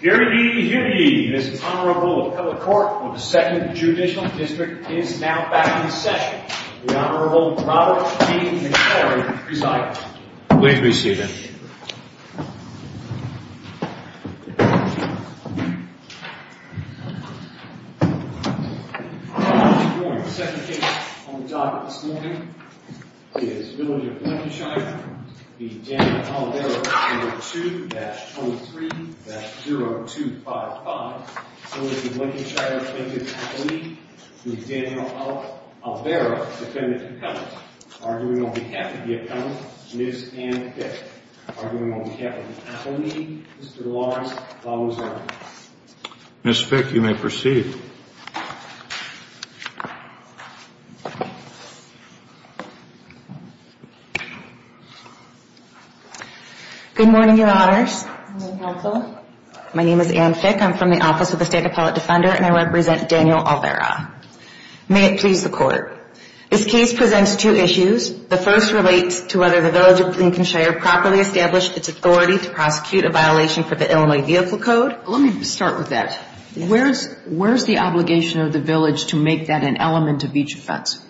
Hear ye, hear ye. This Honorable Appellate Court of the 2nd Judicial District is now back in session. The Honorable Robert T. McCleary presides. Please be seated. Good morning. The second case on the docket this morning is Villager of Lincolnshire v. Daniel Olvera No. 2-23-0255. So is the Lincolnshire plaintiff's appellee, Mr. Daniel Olvera, defendant to penalty. Arguing on behalf of the appellant, Ms. Anne Fick. Arguing on behalf of the appellee, Mr. Lawrence Lawson. Ms. Fick, you may proceed. Good morning, Counsel. My name is Anne Fick. I'm from the Office of the State Appellate Defender, and I represent Daniel Olvera. May it please the Court. This case presents two issues. The first relates to whether the Villager of Lincolnshire properly established its authority to prosecute a violation for the Illinois Vehicle Code. Let me start with that. Where's the obligation of the Village to make that an element of each offense?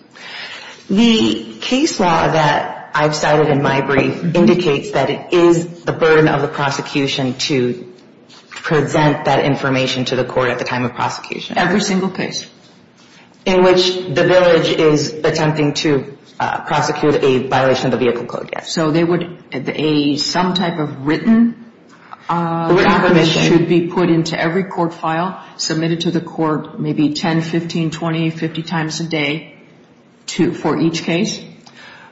The case law that I've cited in my brief indicates that it is the burden of the prosecution to present that information to the court at the time of prosecution. Every single case. In which the Village is attempting to prosecute a violation of the Vehicle Code, yes. So they would – some type of written – Written permission. That should be put into every court file, submitted to the court maybe 10, 15, 20, 50 times a day for each case?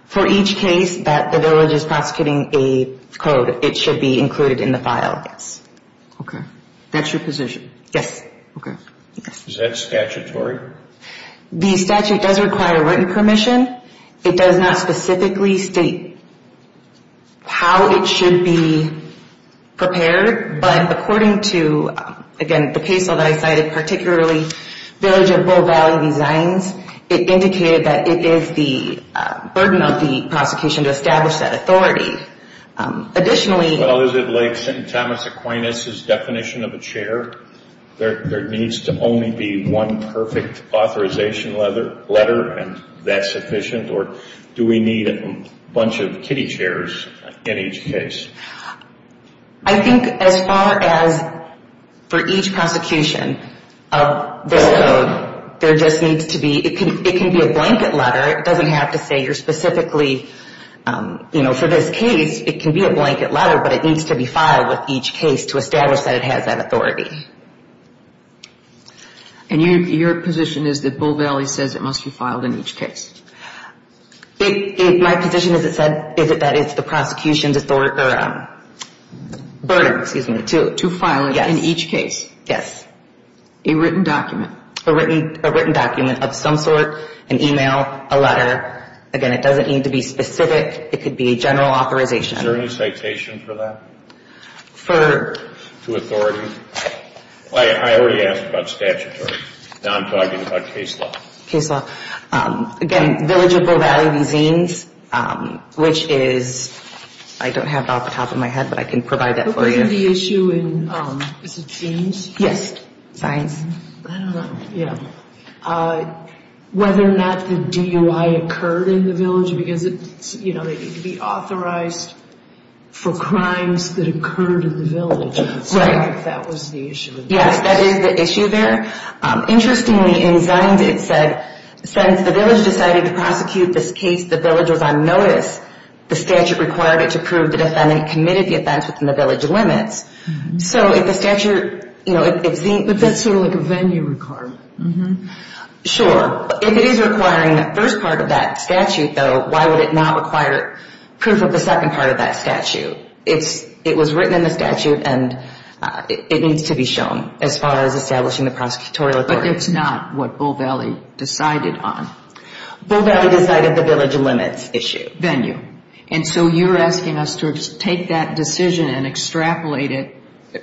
For each case that the Village is prosecuting a code, it should be included in the file. Yes. Okay. That's your position? Yes. Okay. Is that statutory? The statute does require written permission. It does not specifically state how it should be prepared. But according to, again, the case law that I cited, particularly Village of Bow Valley Designs, it indicated that it is the burden of the prosecution to establish that authority. Additionally – Well, is it like Thomas Aquinas' definition of a chair? There needs to only be one perfect authorization letter and that's sufficient? Or do we need a bunch of kitty chairs in each case? I think as far as for each prosecution of this code, there just needs to be – it can be a blanket letter. It doesn't have to say you're specifically – for this case, it can be a blanket letter, but it needs to be filed with each case to establish that it has that authority. And your position is that Bow Valley says it must be filed in each case? My position is that it's the prosecution's burden to file in each case. Yes. A written document? A written document of some sort, an email, a letter. Again, it doesn't need to be specific. It could be a general authorization. Is there any citation for that? For? To authority? I already asked about statutory. Now I'm talking about case law. Case law. Again, Village of Bow Valley Designs, which is – I don't have it off the top of my head, but I can provide that for you. Isn't the issue in – is it Zines? Yes. Zines. I don't know. Yeah. Whether or not the DUI occurred in the village, because it's – you know, they need to be authorized for crimes that occurred in the village. Right. So I think that was the issue. Yes, that is the issue there. Interestingly, in Zines, it said, since the village decided to prosecute this case, the village was on notice. The statute required it to prove the defendant committed the offense within the village limits. So if the statute – you know, if Zines – But that's sort of like a venue requirement. Sure. If it is requiring the first part of that statute, though, why would it not require proof of the second part of that statute? It's – it was written in the statute, and it needs to be shown as far as establishing the prosecutorial authority. But it's not what Bow Valley decided on. Bow Valley decided the village limits issue. Venue. And so you're asking us to take that decision and extrapolate it,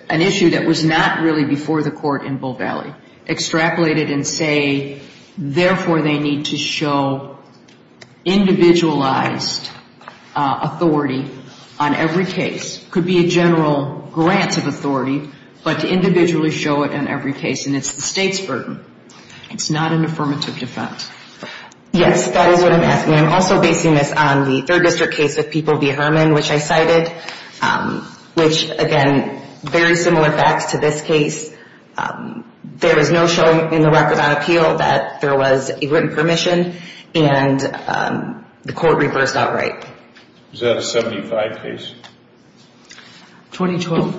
an issue that was not really before the court in Bow Valley, extrapolate it and say, therefore, they need to show individualized authority on every case. It could be a general grant of authority, but to individually show it on every case. And it's the state's burden. It's not an affirmative defense. Yes, that is what I'm asking. And I'm also basing this on the 3rd District case of People v. Herman, which I cited, which, again, very similar facts to this case. There was no showing in the record on appeal that there was a written permission, and the court reversed outright. Was that a 75 case? 2012.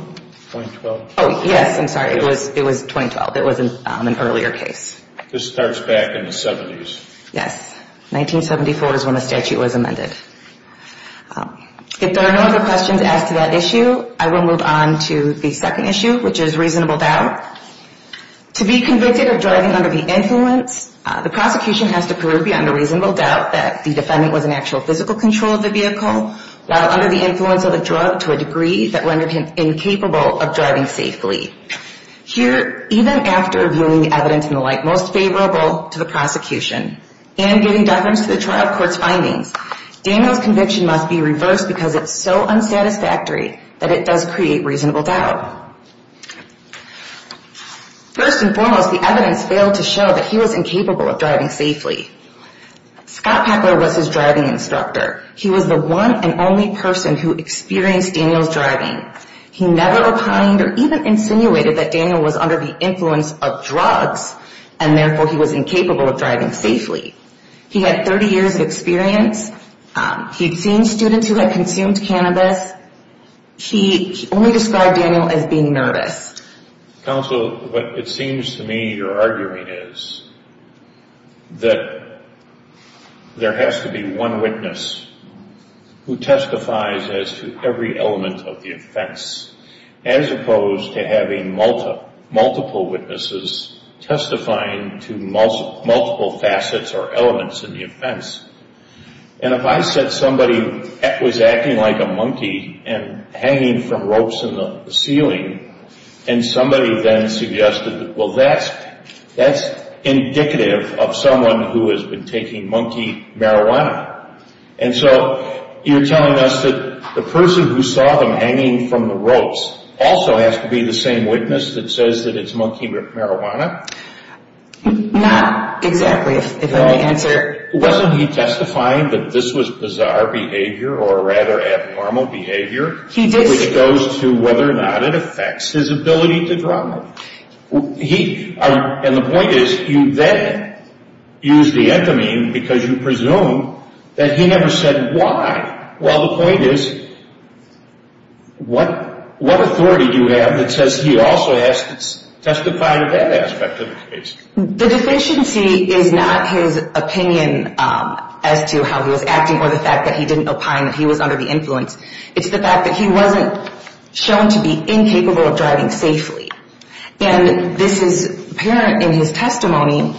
2012. Oh, yes, I'm sorry. It was 2012. It was an earlier case. This starts back in the 70s. Yes, 1974 is when the statute was amended. If there are no other questions as to that issue, I will move on to the second issue, which is reasonable doubt. To be convicted of driving under the influence, the prosecution has to prove beyond a reasonable doubt that the defendant was in actual physical control of the vehicle, while under the influence of a drug to a degree that rendered him incapable of driving safely. Here, even after viewing the evidence and the like most favorable to the prosecution and giving deference to the trial court's findings, Daniel's conviction must be reversed because it's so unsatisfactory that it does create reasonable doubt. First and foremost, the evidence failed to show that he was incapable of driving safely. Scott Peckler was his driving instructor. He was the one and only person who experienced Daniel's driving. He never opined or even insinuated that Daniel was under the influence of drugs and therefore he was incapable of driving safely. He had 30 years of experience. He'd seen students who had consumed cannabis. He only described Daniel as being nervous. Counsel, what it seems to me you're arguing is that there has to be one witness who testifies as to every element of the offense as opposed to having multiple witnesses testifying to multiple facets or elements in the offense. And if I said somebody was acting like a monkey and hanging from ropes in the ceiling and somebody then suggested, well, that's indicative of someone who has been taking monkey marijuana and so you're telling us that the person who saw them hanging from the ropes also has to be the same witness that says that it's monkey marijuana? Not exactly, if I may answer. Wasn't he testifying that this was bizarre behavior or rather abnormal behavior, which goes to whether or not it affects his ability to drive? And the point is, you then use the anthamine because you presume that he never said why. Well, the point is, what authority do you have that says he also testified to that aspect of the case? The deficiency is not his opinion as to how he was acting or the fact that he didn't opine that he was under the influence. It's the fact that he wasn't shown to be incapable of driving safely. And this is apparent in his testimony.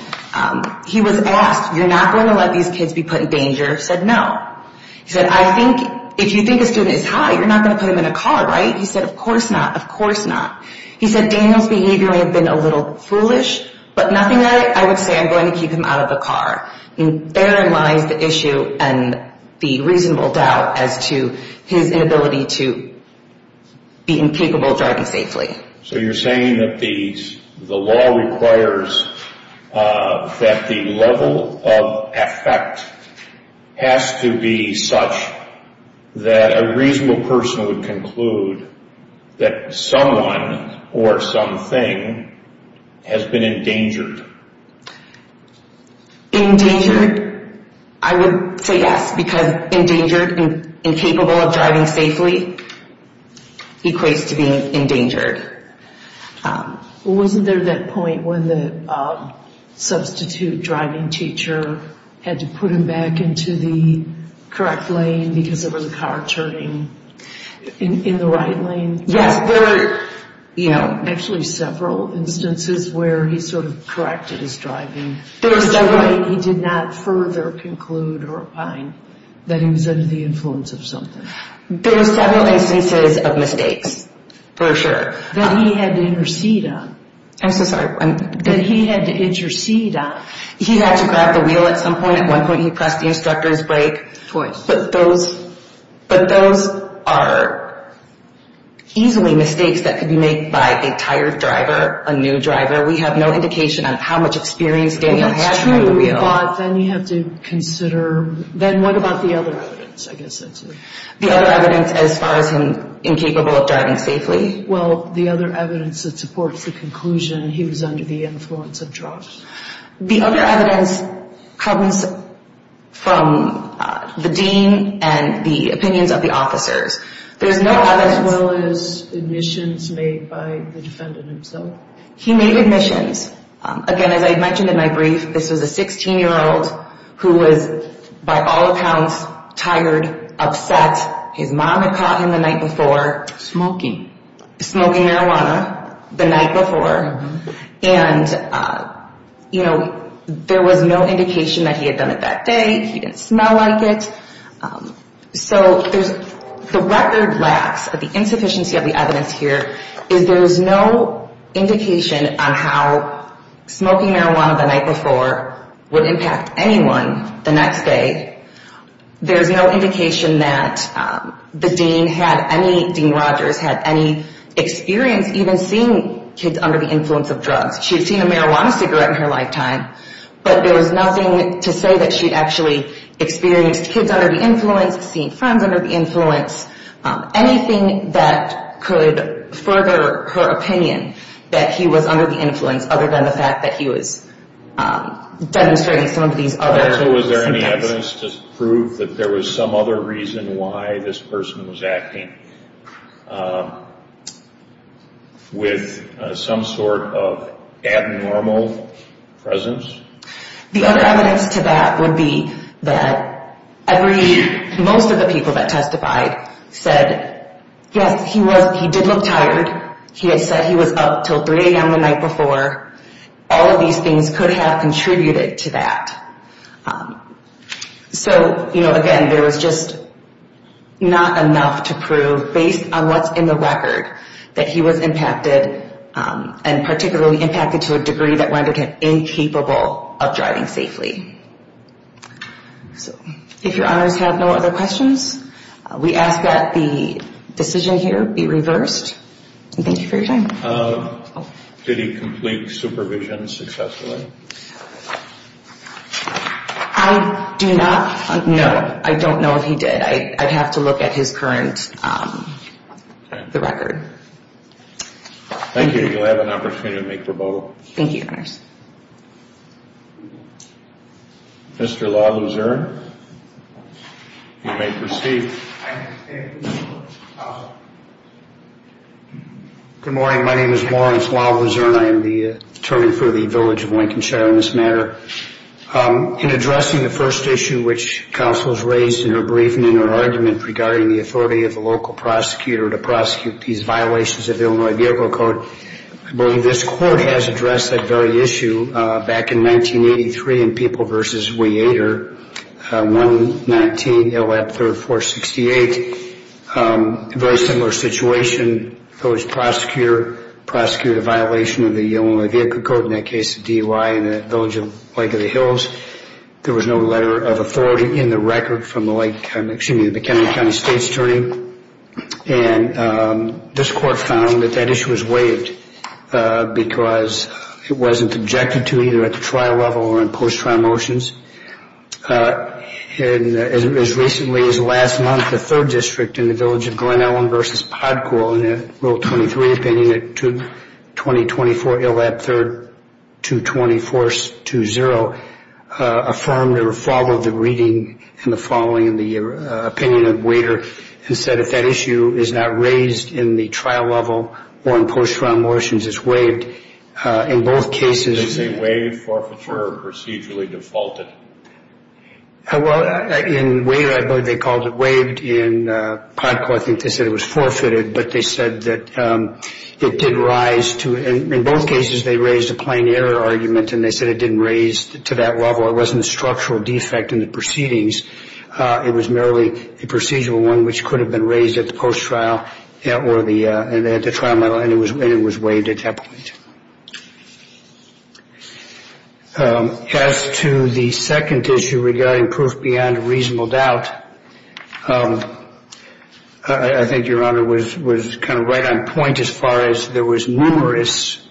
He was asked, you're not going to let these kids be put in danger? He said, no. He said, I think if you think a student is high, you're not going to put him in a car, right? He said, of course not, of course not. He said, Daniel's behavior may have been a little foolish, but nothing that I would say I'm going to keep him out of a car. And therein lies the issue and the reasonable doubt as to his inability to be incapable of driving safely. So you're saying that the law requires that the level of effect has to be such that a reasonable person would conclude that someone or something has been endangered. Endangered? I would say yes, because endangered and incapable of driving safely equates to being endangered. Wasn't there that point when the substitute driving teacher had to put him back into the correct lane because of the car turning in the right lane? Yes, there were actually several instances where he sort of corrected his driving in a way he did not further conclude or opine that he was under the influence of something. There were several instances of mistakes, for sure. That he had to intercede on. I'm so sorry. That he had to intercede on. He had to grab the wheel at some point. At one point he pressed the instructor's brake. Twice. But those are easily mistakes that could be made by a tired driver, a new driver. We have no indication on how much experience Daniel had driving a wheel. That's true, but then you have to consider, then what about the other evidence? The other evidence as far as him incapable of driving safely? Well, the other evidence that supports the conclusion he was under the influence of drugs. The other evidence comes from the dean and the opinions of the officers. There's no evidence. As well as admissions made by the defendant himself? He made admissions. Again, as I mentioned in my brief, this was a 16-year-old who was by all accounts tired, upset. His mom had caught him the night before. Smoking. Smoking marijuana the night before. And there was no indication that he had done it that day. He didn't smell like it. So the record lacks of the insufficiency of the evidence here. There's no indication on how smoking marijuana the night before would impact anyone the next day. There's no indication that the dean had any experience even seeing kids under the influence of drugs. She'd seen a marijuana cigarette in her lifetime, but there was nothing to say that she'd actually experienced kids under the influence, seen friends under the influence, anything that could further her opinion that he was under the influence other than the fact that he was demonstrating some of these other symptoms. Was there any evidence to prove that there was some other reason why this person was acting with some sort of abnormal presence? The other evidence to that would be that most of the people that testified said, yes, he did look tired. He had said he was up until 3 a.m. the night before. All of these things could have contributed to that. So, you know, again, there was just not enough to prove based on what's in the record that he was impacted and particularly impacted to a degree that rendered him incapable of driving safely. If your honors have no other questions, we ask that the decision here be reversed. Thank you for your time. Did he complete supervision successfully? I do not know. I don't know if he did. I'd have to look at his current record. Thank you. You'll have an opportunity to make your vote. Thank you, your honors. Mr. LaLuzerne, you may proceed. Thank you, counsel. Good morning. My name is Lawrence LaLuzerne. I am the attorney for the village of Lincolnshire on this matter. In addressing the first issue which counsel has raised in her briefing, in her argument regarding the authority of the local prosecutor to prosecute these violations of the Illinois Vehicle Code, I believe this court has addressed that very issue back in 1983 in People v. Weider, 119, Ill. 3rd, 468. A very similar situation. The village prosecutor prosecuted a violation of the Illinois Vehicle Code, in that case the DUI in the village of Lake of the Hills. There was no letter of authority in the record from the Lake County, excuse me, the McKinley County State's attorney. And this court found that that issue was waived because it wasn't objected to either at the trial level or in post-trial motions. And as recently as last month, the third district in the village of Glen Ellen v. Podcool, in a Rule 23 opinion at 20-24, Ill. 3rd, 224-20, affirmed or followed the reading and the following in the opinion of Weider, who said if that issue is not raised in the trial level or in post-trial motions, it's waived. In both cases... Is it waived, forfeited, or procedurally defaulted? Well, in Weider, I believe they called it waived. In Podcool, I think they said it was forfeited, but they said that it did rise to... In both cases, they raised a plain error argument, and they said it didn't raise to that level. It wasn't a structural defect in the proceedings. It was merely a procedural one which could have been raised at the post-trial or at the trial level, and it was waived at that point. As to the second issue regarding proof beyond a reasonable doubt, I think Your Honor was kind of right on point as far as there was numerous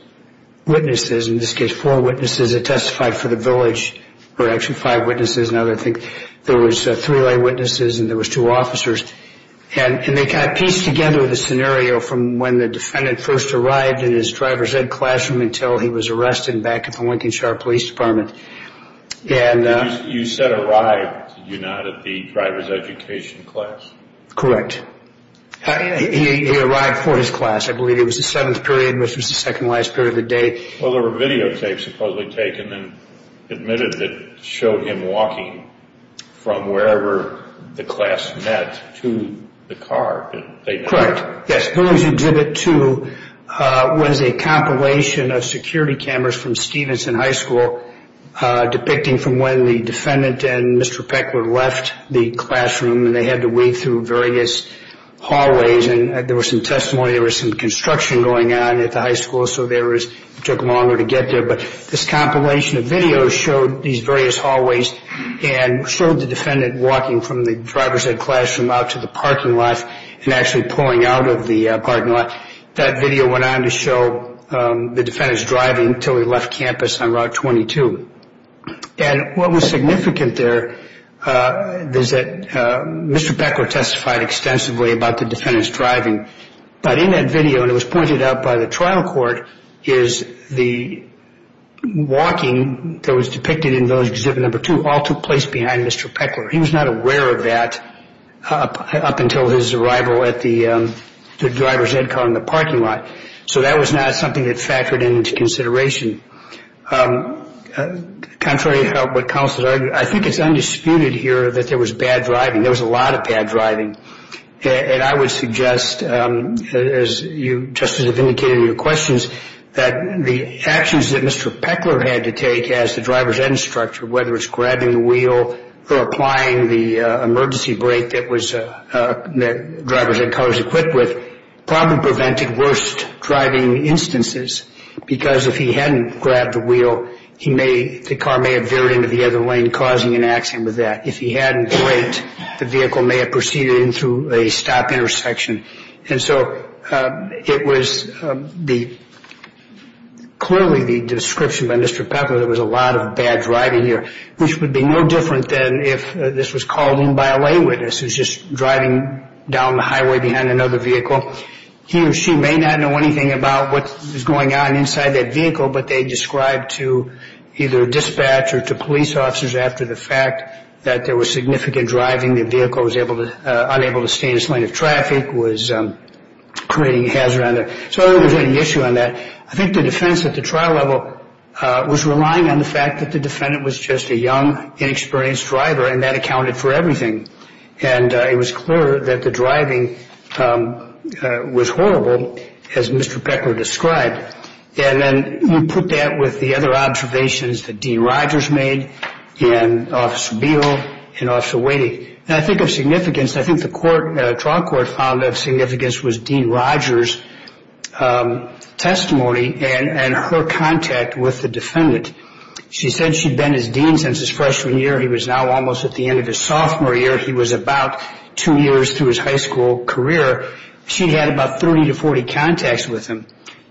witnesses, in this case four witnesses that testified for the village, or actually five witnesses and other things. There was three lay witnesses, and there was two officers, and they kind of pieced together the scenario from when the defendant first arrived in his driver's ed classroom until he was arrested back at the Lincolnshire Police Department. You said arrived, did you not, at the driver's education class? Correct. He arrived for his class. I believe it was the seventh period, which was the second to last period of the day. Well, there were videotapes supposedly taken and admitted that showed him walking from wherever the class met to the car. Correct. Yes, Village Exhibit 2 was a compilation of security cameras from Stevenson High School depicting from when the defendant and Mr. Peck were left the classroom, and they had to wade through various hallways. And there was some testimony there was some construction going on at the high school, so it took them longer to get there. But this compilation of videos showed these various hallways and showed the defendant walking from the driver's ed classroom out to the parking lot and actually pulling out of the parking lot. That video went on to show the defendant's driving until he left campus on Route 22. And what was significant there is that Mr. Peckler testified extensively about the defendant's driving. But in that video, and it was pointed out by the trial court, is the walking that was depicted in Village Exhibit 2 all took place behind Mr. Peckler. He was not aware of that up until his arrival at the driver's ed car in the parking lot. So that was not something that factored into consideration. Contrary to what counsel argued, I think it's undisputed here that there was bad driving. There was a lot of bad driving. And I would suggest, as you just as have indicated in your questions, that the actions that Mr. Peckler had to take as the driver's ed instructor, whether it's grabbing the wheel or applying the emergency brake that driver's ed cars are equipped with, probably prevented worst driving instances because if he hadn't grabbed the wheel, the car may have veered into the other lane, causing an accident with that. If he hadn't braked, the vehicle may have proceeded into a stop intersection. And so it was clearly the description by Mr. Peckler that there was a lot of bad driving here, which would be no different than if this was called in by a lay witness who's just driving down the highway behind another vehicle. He or she may not know anything about what is going on inside that vehicle, but they describe to either dispatch or to police officers after the fact that there was significant driving, the vehicle was unable to stay in its lane of traffic, was creating a hazard. So I don't think there's any issue on that. I think the defense at the trial level was relying on the fact that the defendant was just a young, inexperienced driver and that accounted for everything. And it was clear that the driving was horrible, as Mr. Peckler described. And then we put that with the other observations that Dean Rogers made and Officer Beal and Officer Whady. And I think of significance, I think the trial court found of significance was Dean Rogers' testimony and her contact with the defendant. She said she'd been his dean since his freshman year. He was now almost at the end of his sophomore year. He was about two years through his high school career. She'd had about 30 to 40 contacts with him.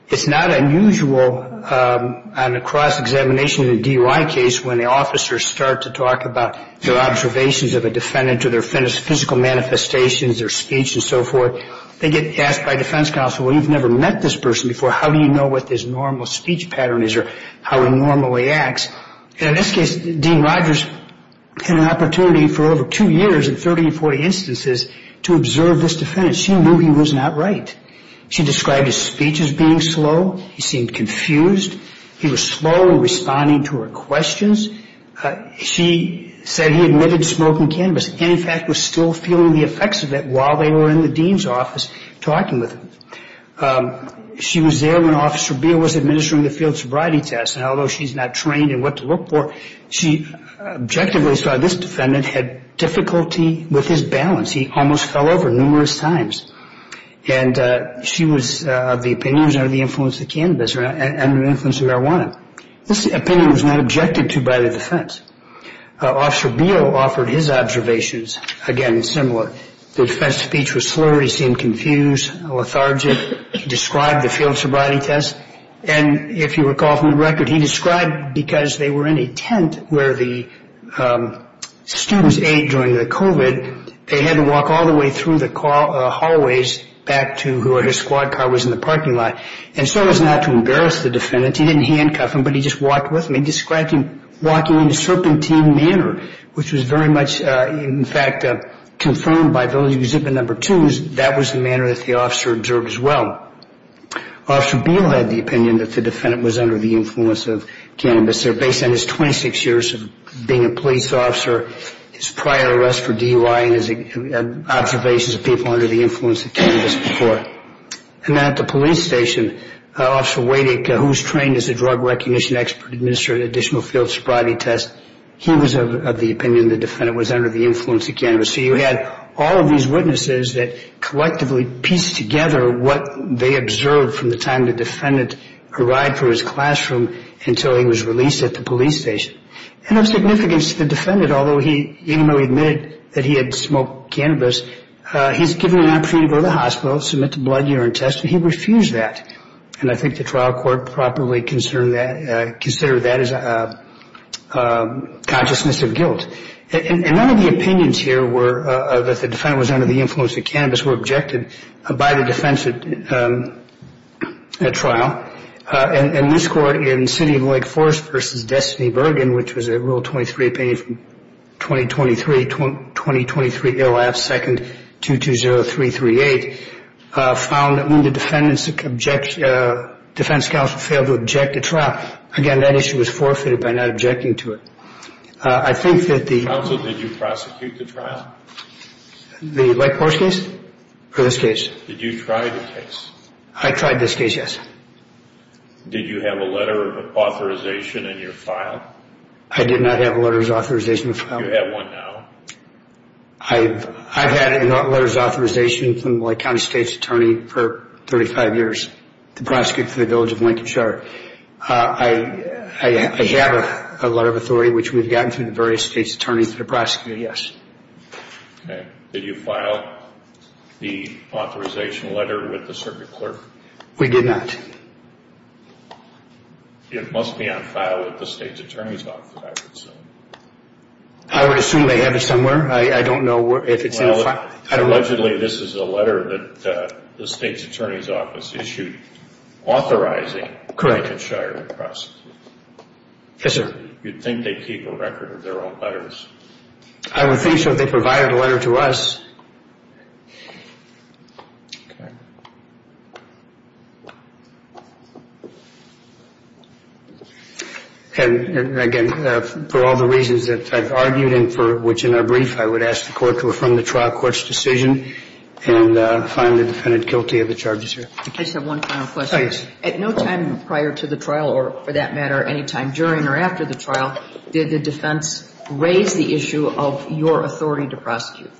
It's not unusual on a cross-examination in a DUI case when the officers start to talk about their observations of a defendant to their physical manifestations, their speech, and so forth. They get asked by defense counsel, well, you've never met this person before. How do you know what his normal speech pattern is or how he normally acts? And in this case, Dean Rogers had an opportunity for over two years in 30 or 40 instances to observe this defendant. She knew he was not right. She described his speech as being slow. He seemed confused. He was slow in responding to her questions. She said he admitted smoking cannabis and, in fact, was still feeling the effects of it while they were in the dean's office talking with him. She was there when Officer Beal was administering the field sobriety test, and although she's not trained in what to look for, she objectively saw this defendant had difficulty with his balance. He almost fell over numerous times. And she was of the opinion he was under the influence of cannabis or under the influence of marijuana. This opinion was not objected to by the defense. Officer Beal offered his observations, again, similar. The defense's speech was slow. He seemed confused, lethargic. He described the field sobriety test, and if you recall from the record, he described because they were in a tent where the students ate during the COVID, they had to walk all the way through the hallways back to where his squad car was in the parking lot. And so as not to embarrass the defendant, he didn't handcuff him, but he just walked with him. He described him walking in a serpentine manner, which was very much, in fact, confirmed by the exhibit number two. That was the manner that the officer observed as well. Officer Beal had the opinion that the defendant was under the influence of cannabis. They're based on his 26 years of being a police officer, his prior arrest for DUI, and his observations of people under the influence of cannabis before. And then at the police station, Officer Wadick, who was trained as a drug recognition expert, administered an additional field sobriety test. He was of the opinion the defendant was under the influence of cannabis. So you had all of these witnesses that collectively pieced together what they observed from the time the defendant arrived for his classroom until he was released at the police station. And of significance to the defendant, although he admitted that he had smoked cannabis, he was given an opportunity to go to the hospital to submit the blood urine test, but he refused that. And I think the trial court properly considered that as a consciousness of guilt. And none of the opinions here were that the defendant was under the influence of cannabis, were objected by the defense at trial. And this court in City of Wake Forest v. Destiny Bergen, which was a Rule 23 opinion from 2023, 20-23-0-2-2-0-3-3-8, found that when the defense counsel failed to object at trial, again, that issue was forfeited by not objecting to it. I think that the... Counsel, did you prosecute the trial? The Wake Forest case? Or this case? Did you try the case? I tried this case, yes. Did you have a letter of authorization in your file? I did not have a letter of authorization in my file. You have one now. I've had a letter of authorization from my county state's attorney for 35 years to prosecute for the Village of Lincoln Shard. I have a letter of authority, which we've gotten from the various state's attorneys to prosecute, yes. Okay. Did you file the authorization letter with the circuit clerk? We did not. It must be on file at the state's attorney's office, I would assume. I would assume they have it somewhere. I don't know if it's in a file. Well, allegedly this is a letter that the state's attorney's office issued authorizing... Correct. ...Lincoln Shard to prosecute. Yes, sir. You'd think they'd keep a record of their own letters. I would think so if they provided a letter to us. Okay. And, again, for all the reasons that I've argued and for which, in our brief, I would ask the court to affirm the trial court's decision and find the defendant guilty of the charges here. I just have one final question. Yes. At no time prior to the trial or, for that matter, any time during or after the trial, did the defense raise the issue of your authority to prosecute?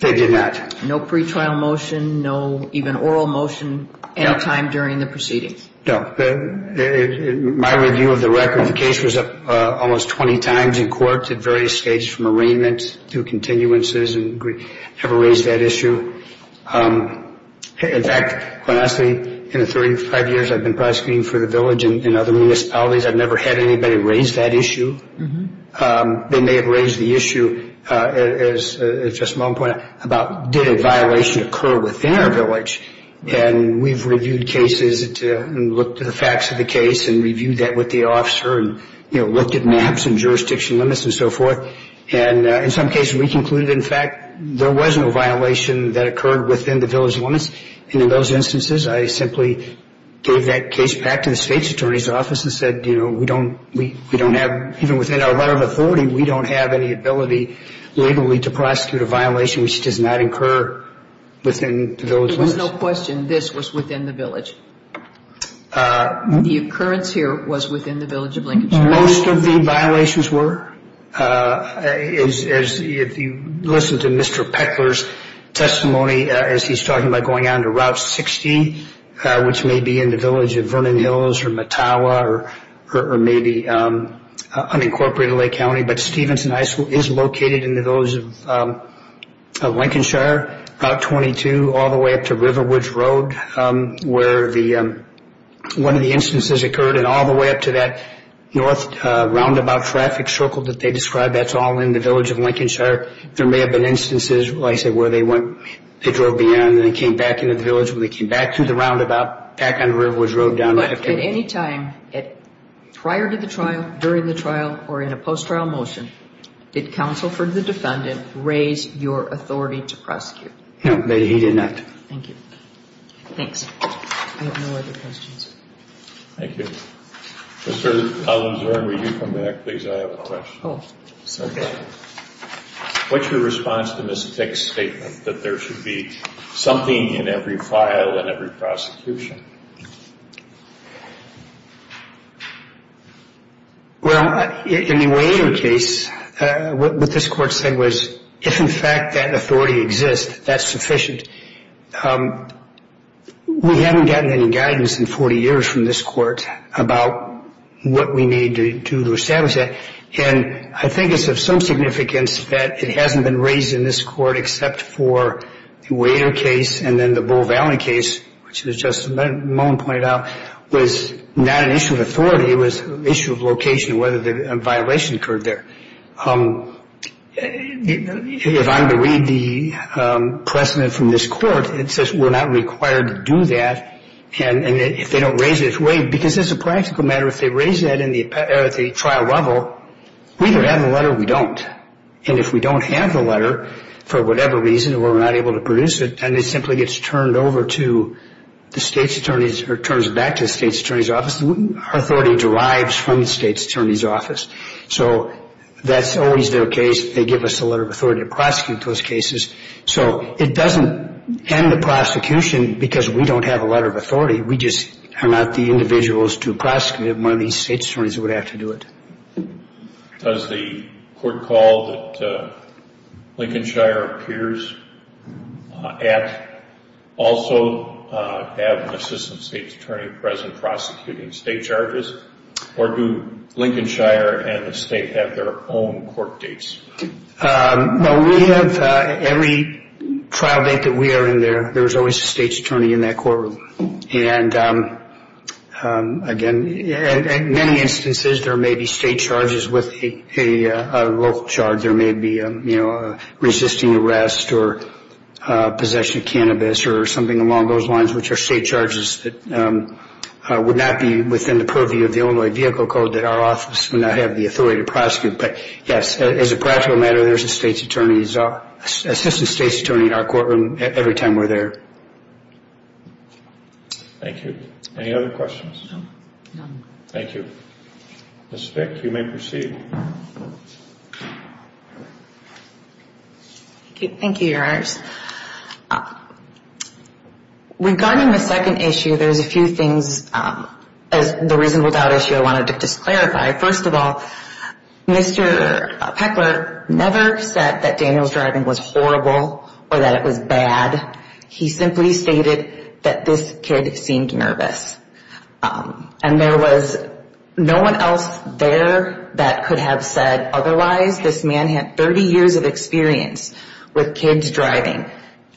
They did not. No pretrial motion, no even oral motion, any time during the proceedings? No. In my review of the record, the case was up almost 20 times in court at various states, from arraignment to continuances, and never raised that issue. In fact, quite honestly, in the 35 years I've been prosecuting for the village and other municipalities, I've never had anybody raise that issue. They may have raised the issue, as Justice Malone pointed out, about did a violation occur within our village. And we've reviewed cases and looked at the facts of the case and reviewed that with the officer and looked at maps and jurisdiction limits and so forth. And in some cases we concluded, in fact, there was no violation that occurred within the village limits. And in those instances, I simply gave that case back to the state's attorney's office and said, you know, we don't have, even within our letter of authority, we don't have any ability legally to prosecute a violation which does not occur within the village limits. There was no question this was within the village. The occurrence here was within the village of Lincoln Street. Most of the violations were. If you listen to Mr. Peckler's testimony as he's talking about going on to Route 60, which may be in the village of Vernon Hills or Mattawa or maybe unincorporated Lake County, but Stevenson High School is located in the village of Lincolnshire, Route 22, all the way up to Riverwoods Road where one of the instances occurred, and all the way up to that north roundabout traffic circle that they described, that's all in the village of Lincolnshire. There may have been instances, like I said, where they went, they drove beyond and they came back into the village. When they came back through the roundabout, back on Riverwoods Road down there. But at any time prior to the trial, during the trial, or in a post-trial motion, did counsel for the defendant raise your authority to prosecute? No, he did not. Thank you. Thanks. I have no other questions. Thank you. Mr. Allen Zurn, will you come back, please? I have a question. Oh. Okay. What's your response to Ms. Peck's statement that there should be something in every file and every prosecution? Well, in the Wainer case, what this court said was if, in fact, that authority exists, that's sufficient. We haven't gotten any guidance in 40 years from this court about what we need to do to establish that. And I think it's of some significance that it hasn't been raised in this court except for the Wainer case and then the Bull Valley case, which, as Justice Mullen pointed out, was not an issue of authority. It was an issue of location, whether a violation occurred there. If I'm to read the precedent from this court, it says we're not required to do that. And if they don't raise it, wait, because as a practical matter, if they raise that at the trial level, we either have the letter or we don't. And if we don't have the letter for whatever reason or we're not able to produce it and it simply gets turned over to the State's Attorney's or turns back to the State's Attorney's Office, so that's always their case. They give us a letter of authority to prosecute those cases. So it doesn't end the prosecution because we don't have a letter of authority. We just are not the individuals to prosecute if one of these State's Attorneys would have to do it. Does the court call that Lincolnshire appears at also have an assistant State's Attorney present prosecuting State charges? Or do Lincolnshire and the State have their own court dates? Well, we have every trial date that we are in there, there's always a State's Attorney in that courtroom. And again, in many instances, there may be State charges with a local charge. There may be resisting arrest or possession of cannabis or something along those lines, which are State charges that would not be within the purview of the Illinois Vehicle Code that our office would not have the authority to prosecute. But, yes, as a practical matter, there's an assistant State's Attorney in our courtroom every time we're there. Thank you. Any other questions? No. Thank you. Ms. Fick, you may proceed. Thank you. Thank you, Your Honors. Regarding the second issue, there's a few things, the reasonable doubt issue I wanted to just clarify. First of all, Mr. Peckler never said that Daniel's driving was horrible or that it was bad. He simply stated that this kid seemed nervous. And there was no one else there that could have said otherwise. This man had 30 years of experience with kids driving.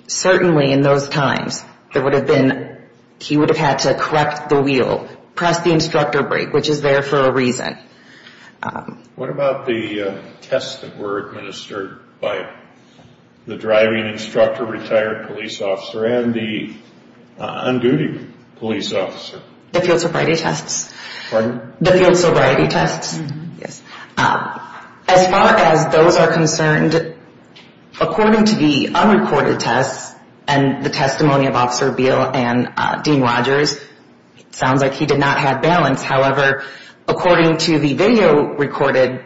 Certainly in those times, there would have been, he would have had to correct the wheel, press the instructor brake, which is there for a reason. What about the tests that were administered by the driving instructor, retired police officer, and the on-duty police officer? The field sobriety tests? Pardon? The field sobriety tests? Yes. As far as those are concerned, according to the unrecorded tests, and the testimony of Officer Beal and Dean Rogers, it sounds like he did not have balance. However, according to the video recorded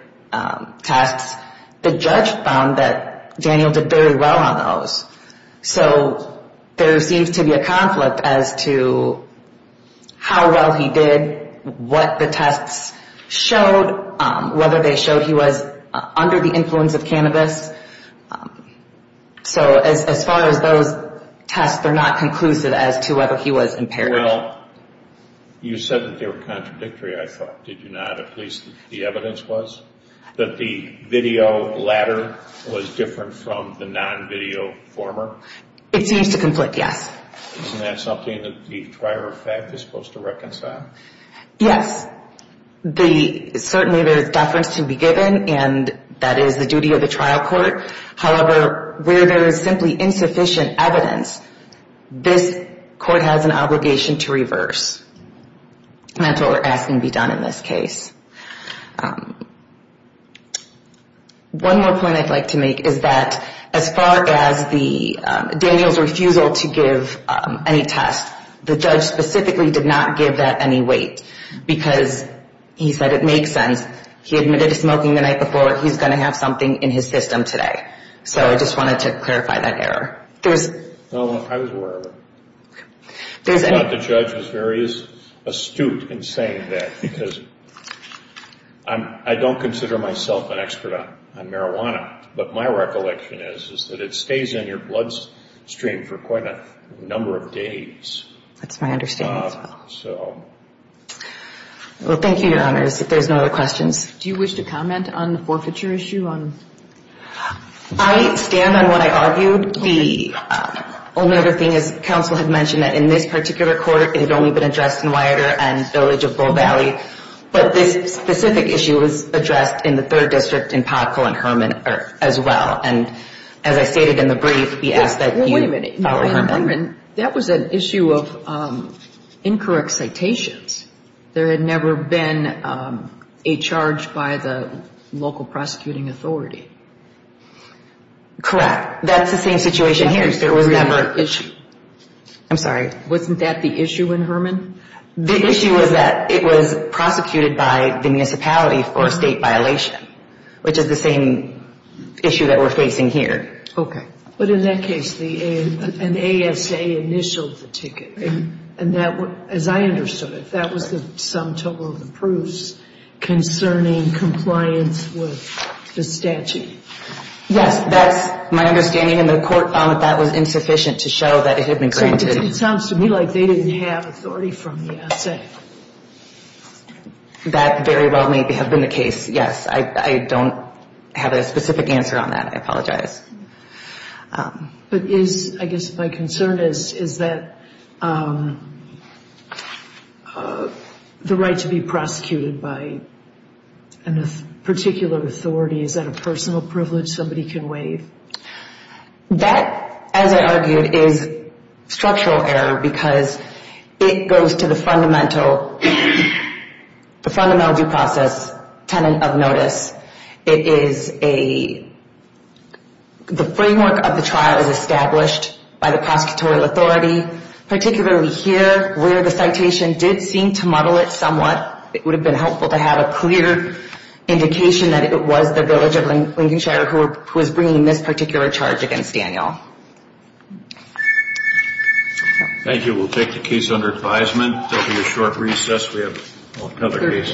tests, the judge found that Daniel did very well on those. So there seems to be a conflict as to how well he did, what the tests showed, whether they showed he was under the influence of cannabis. So as far as those tests, they're not conclusive as to whether he was impaired. Well, you said that they were contradictory, I thought, did you not, at least the evidence was? That the video latter was different from the non-video former? It seems to conflict, yes. Isn't that something that the prior effect is supposed to reconcile? Yes. Certainly there is deference to be given, and that is the duty of the trial court. However, where there is simply insufficient evidence, this court has an obligation to reverse. That's what we're asking to be done in this case. One more point I'd like to make is that as far as Daniel's refusal to give any tests, the judge specifically did not give that any weight because he said it makes sense. He admitted to smoking the night before, he's going to have something in his system today. So I just wanted to clarify that error. No, I was aware of it. I thought the judge was very astute in saying that because I don't consider myself an expert on marijuana, but my recollection is that it stays in your bloodstream for quite a number of days. That's my understanding as well. Well, thank you, Your Honors, if there's no other questions. Do you wish to comment on the forfeiture issue? I stand on what I argued. The only other thing is counsel had mentioned that in this particular court, it had only been addressed in Wyatter and Village of Bow Valley, but this specific issue was addressed in the third district in Pothole and Herman as well. And as I stated in the brief, we ask that you follow Herman. Wait a minute. That was an issue of incorrect citations. There had never been a charge by the local prosecuting authority. Correct. That's the same situation here. There was never an issue. I'm sorry. Wasn't that the issue in Herman? The issue was that it was prosecuted by the municipality for a state violation, which is the same issue that we're facing here. Okay. But in that case, an ASA initialed the ticket, and that, as I understood it, that was the sum total of the proofs concerning compliance with the statute. Yes, that's my understanding. And the court found that that was insufficient to show that it had been granted. It sounds to me like they didn't have authority from the ASA. That very well may have been the case, yes. I don't have a specific answer on that. I apologize. But is, I guess my concern is, is that the right to be prosecuted by a particular authority, is that a personal privilege somebody can waive? That, as I argued, is structural error because it goes to the fundamental due process tenant of notice. It is a, the framework of the trial is established by the prosecutorial authority, particularly here where the citation did seem to muddle it somewhat. It would have been helpful to have a clear indication that it was the village of Lincolnshire who was bringing this particular charge against Daniel. Thank you. We'll take the case under advisement. There will be a short recess. We have another case.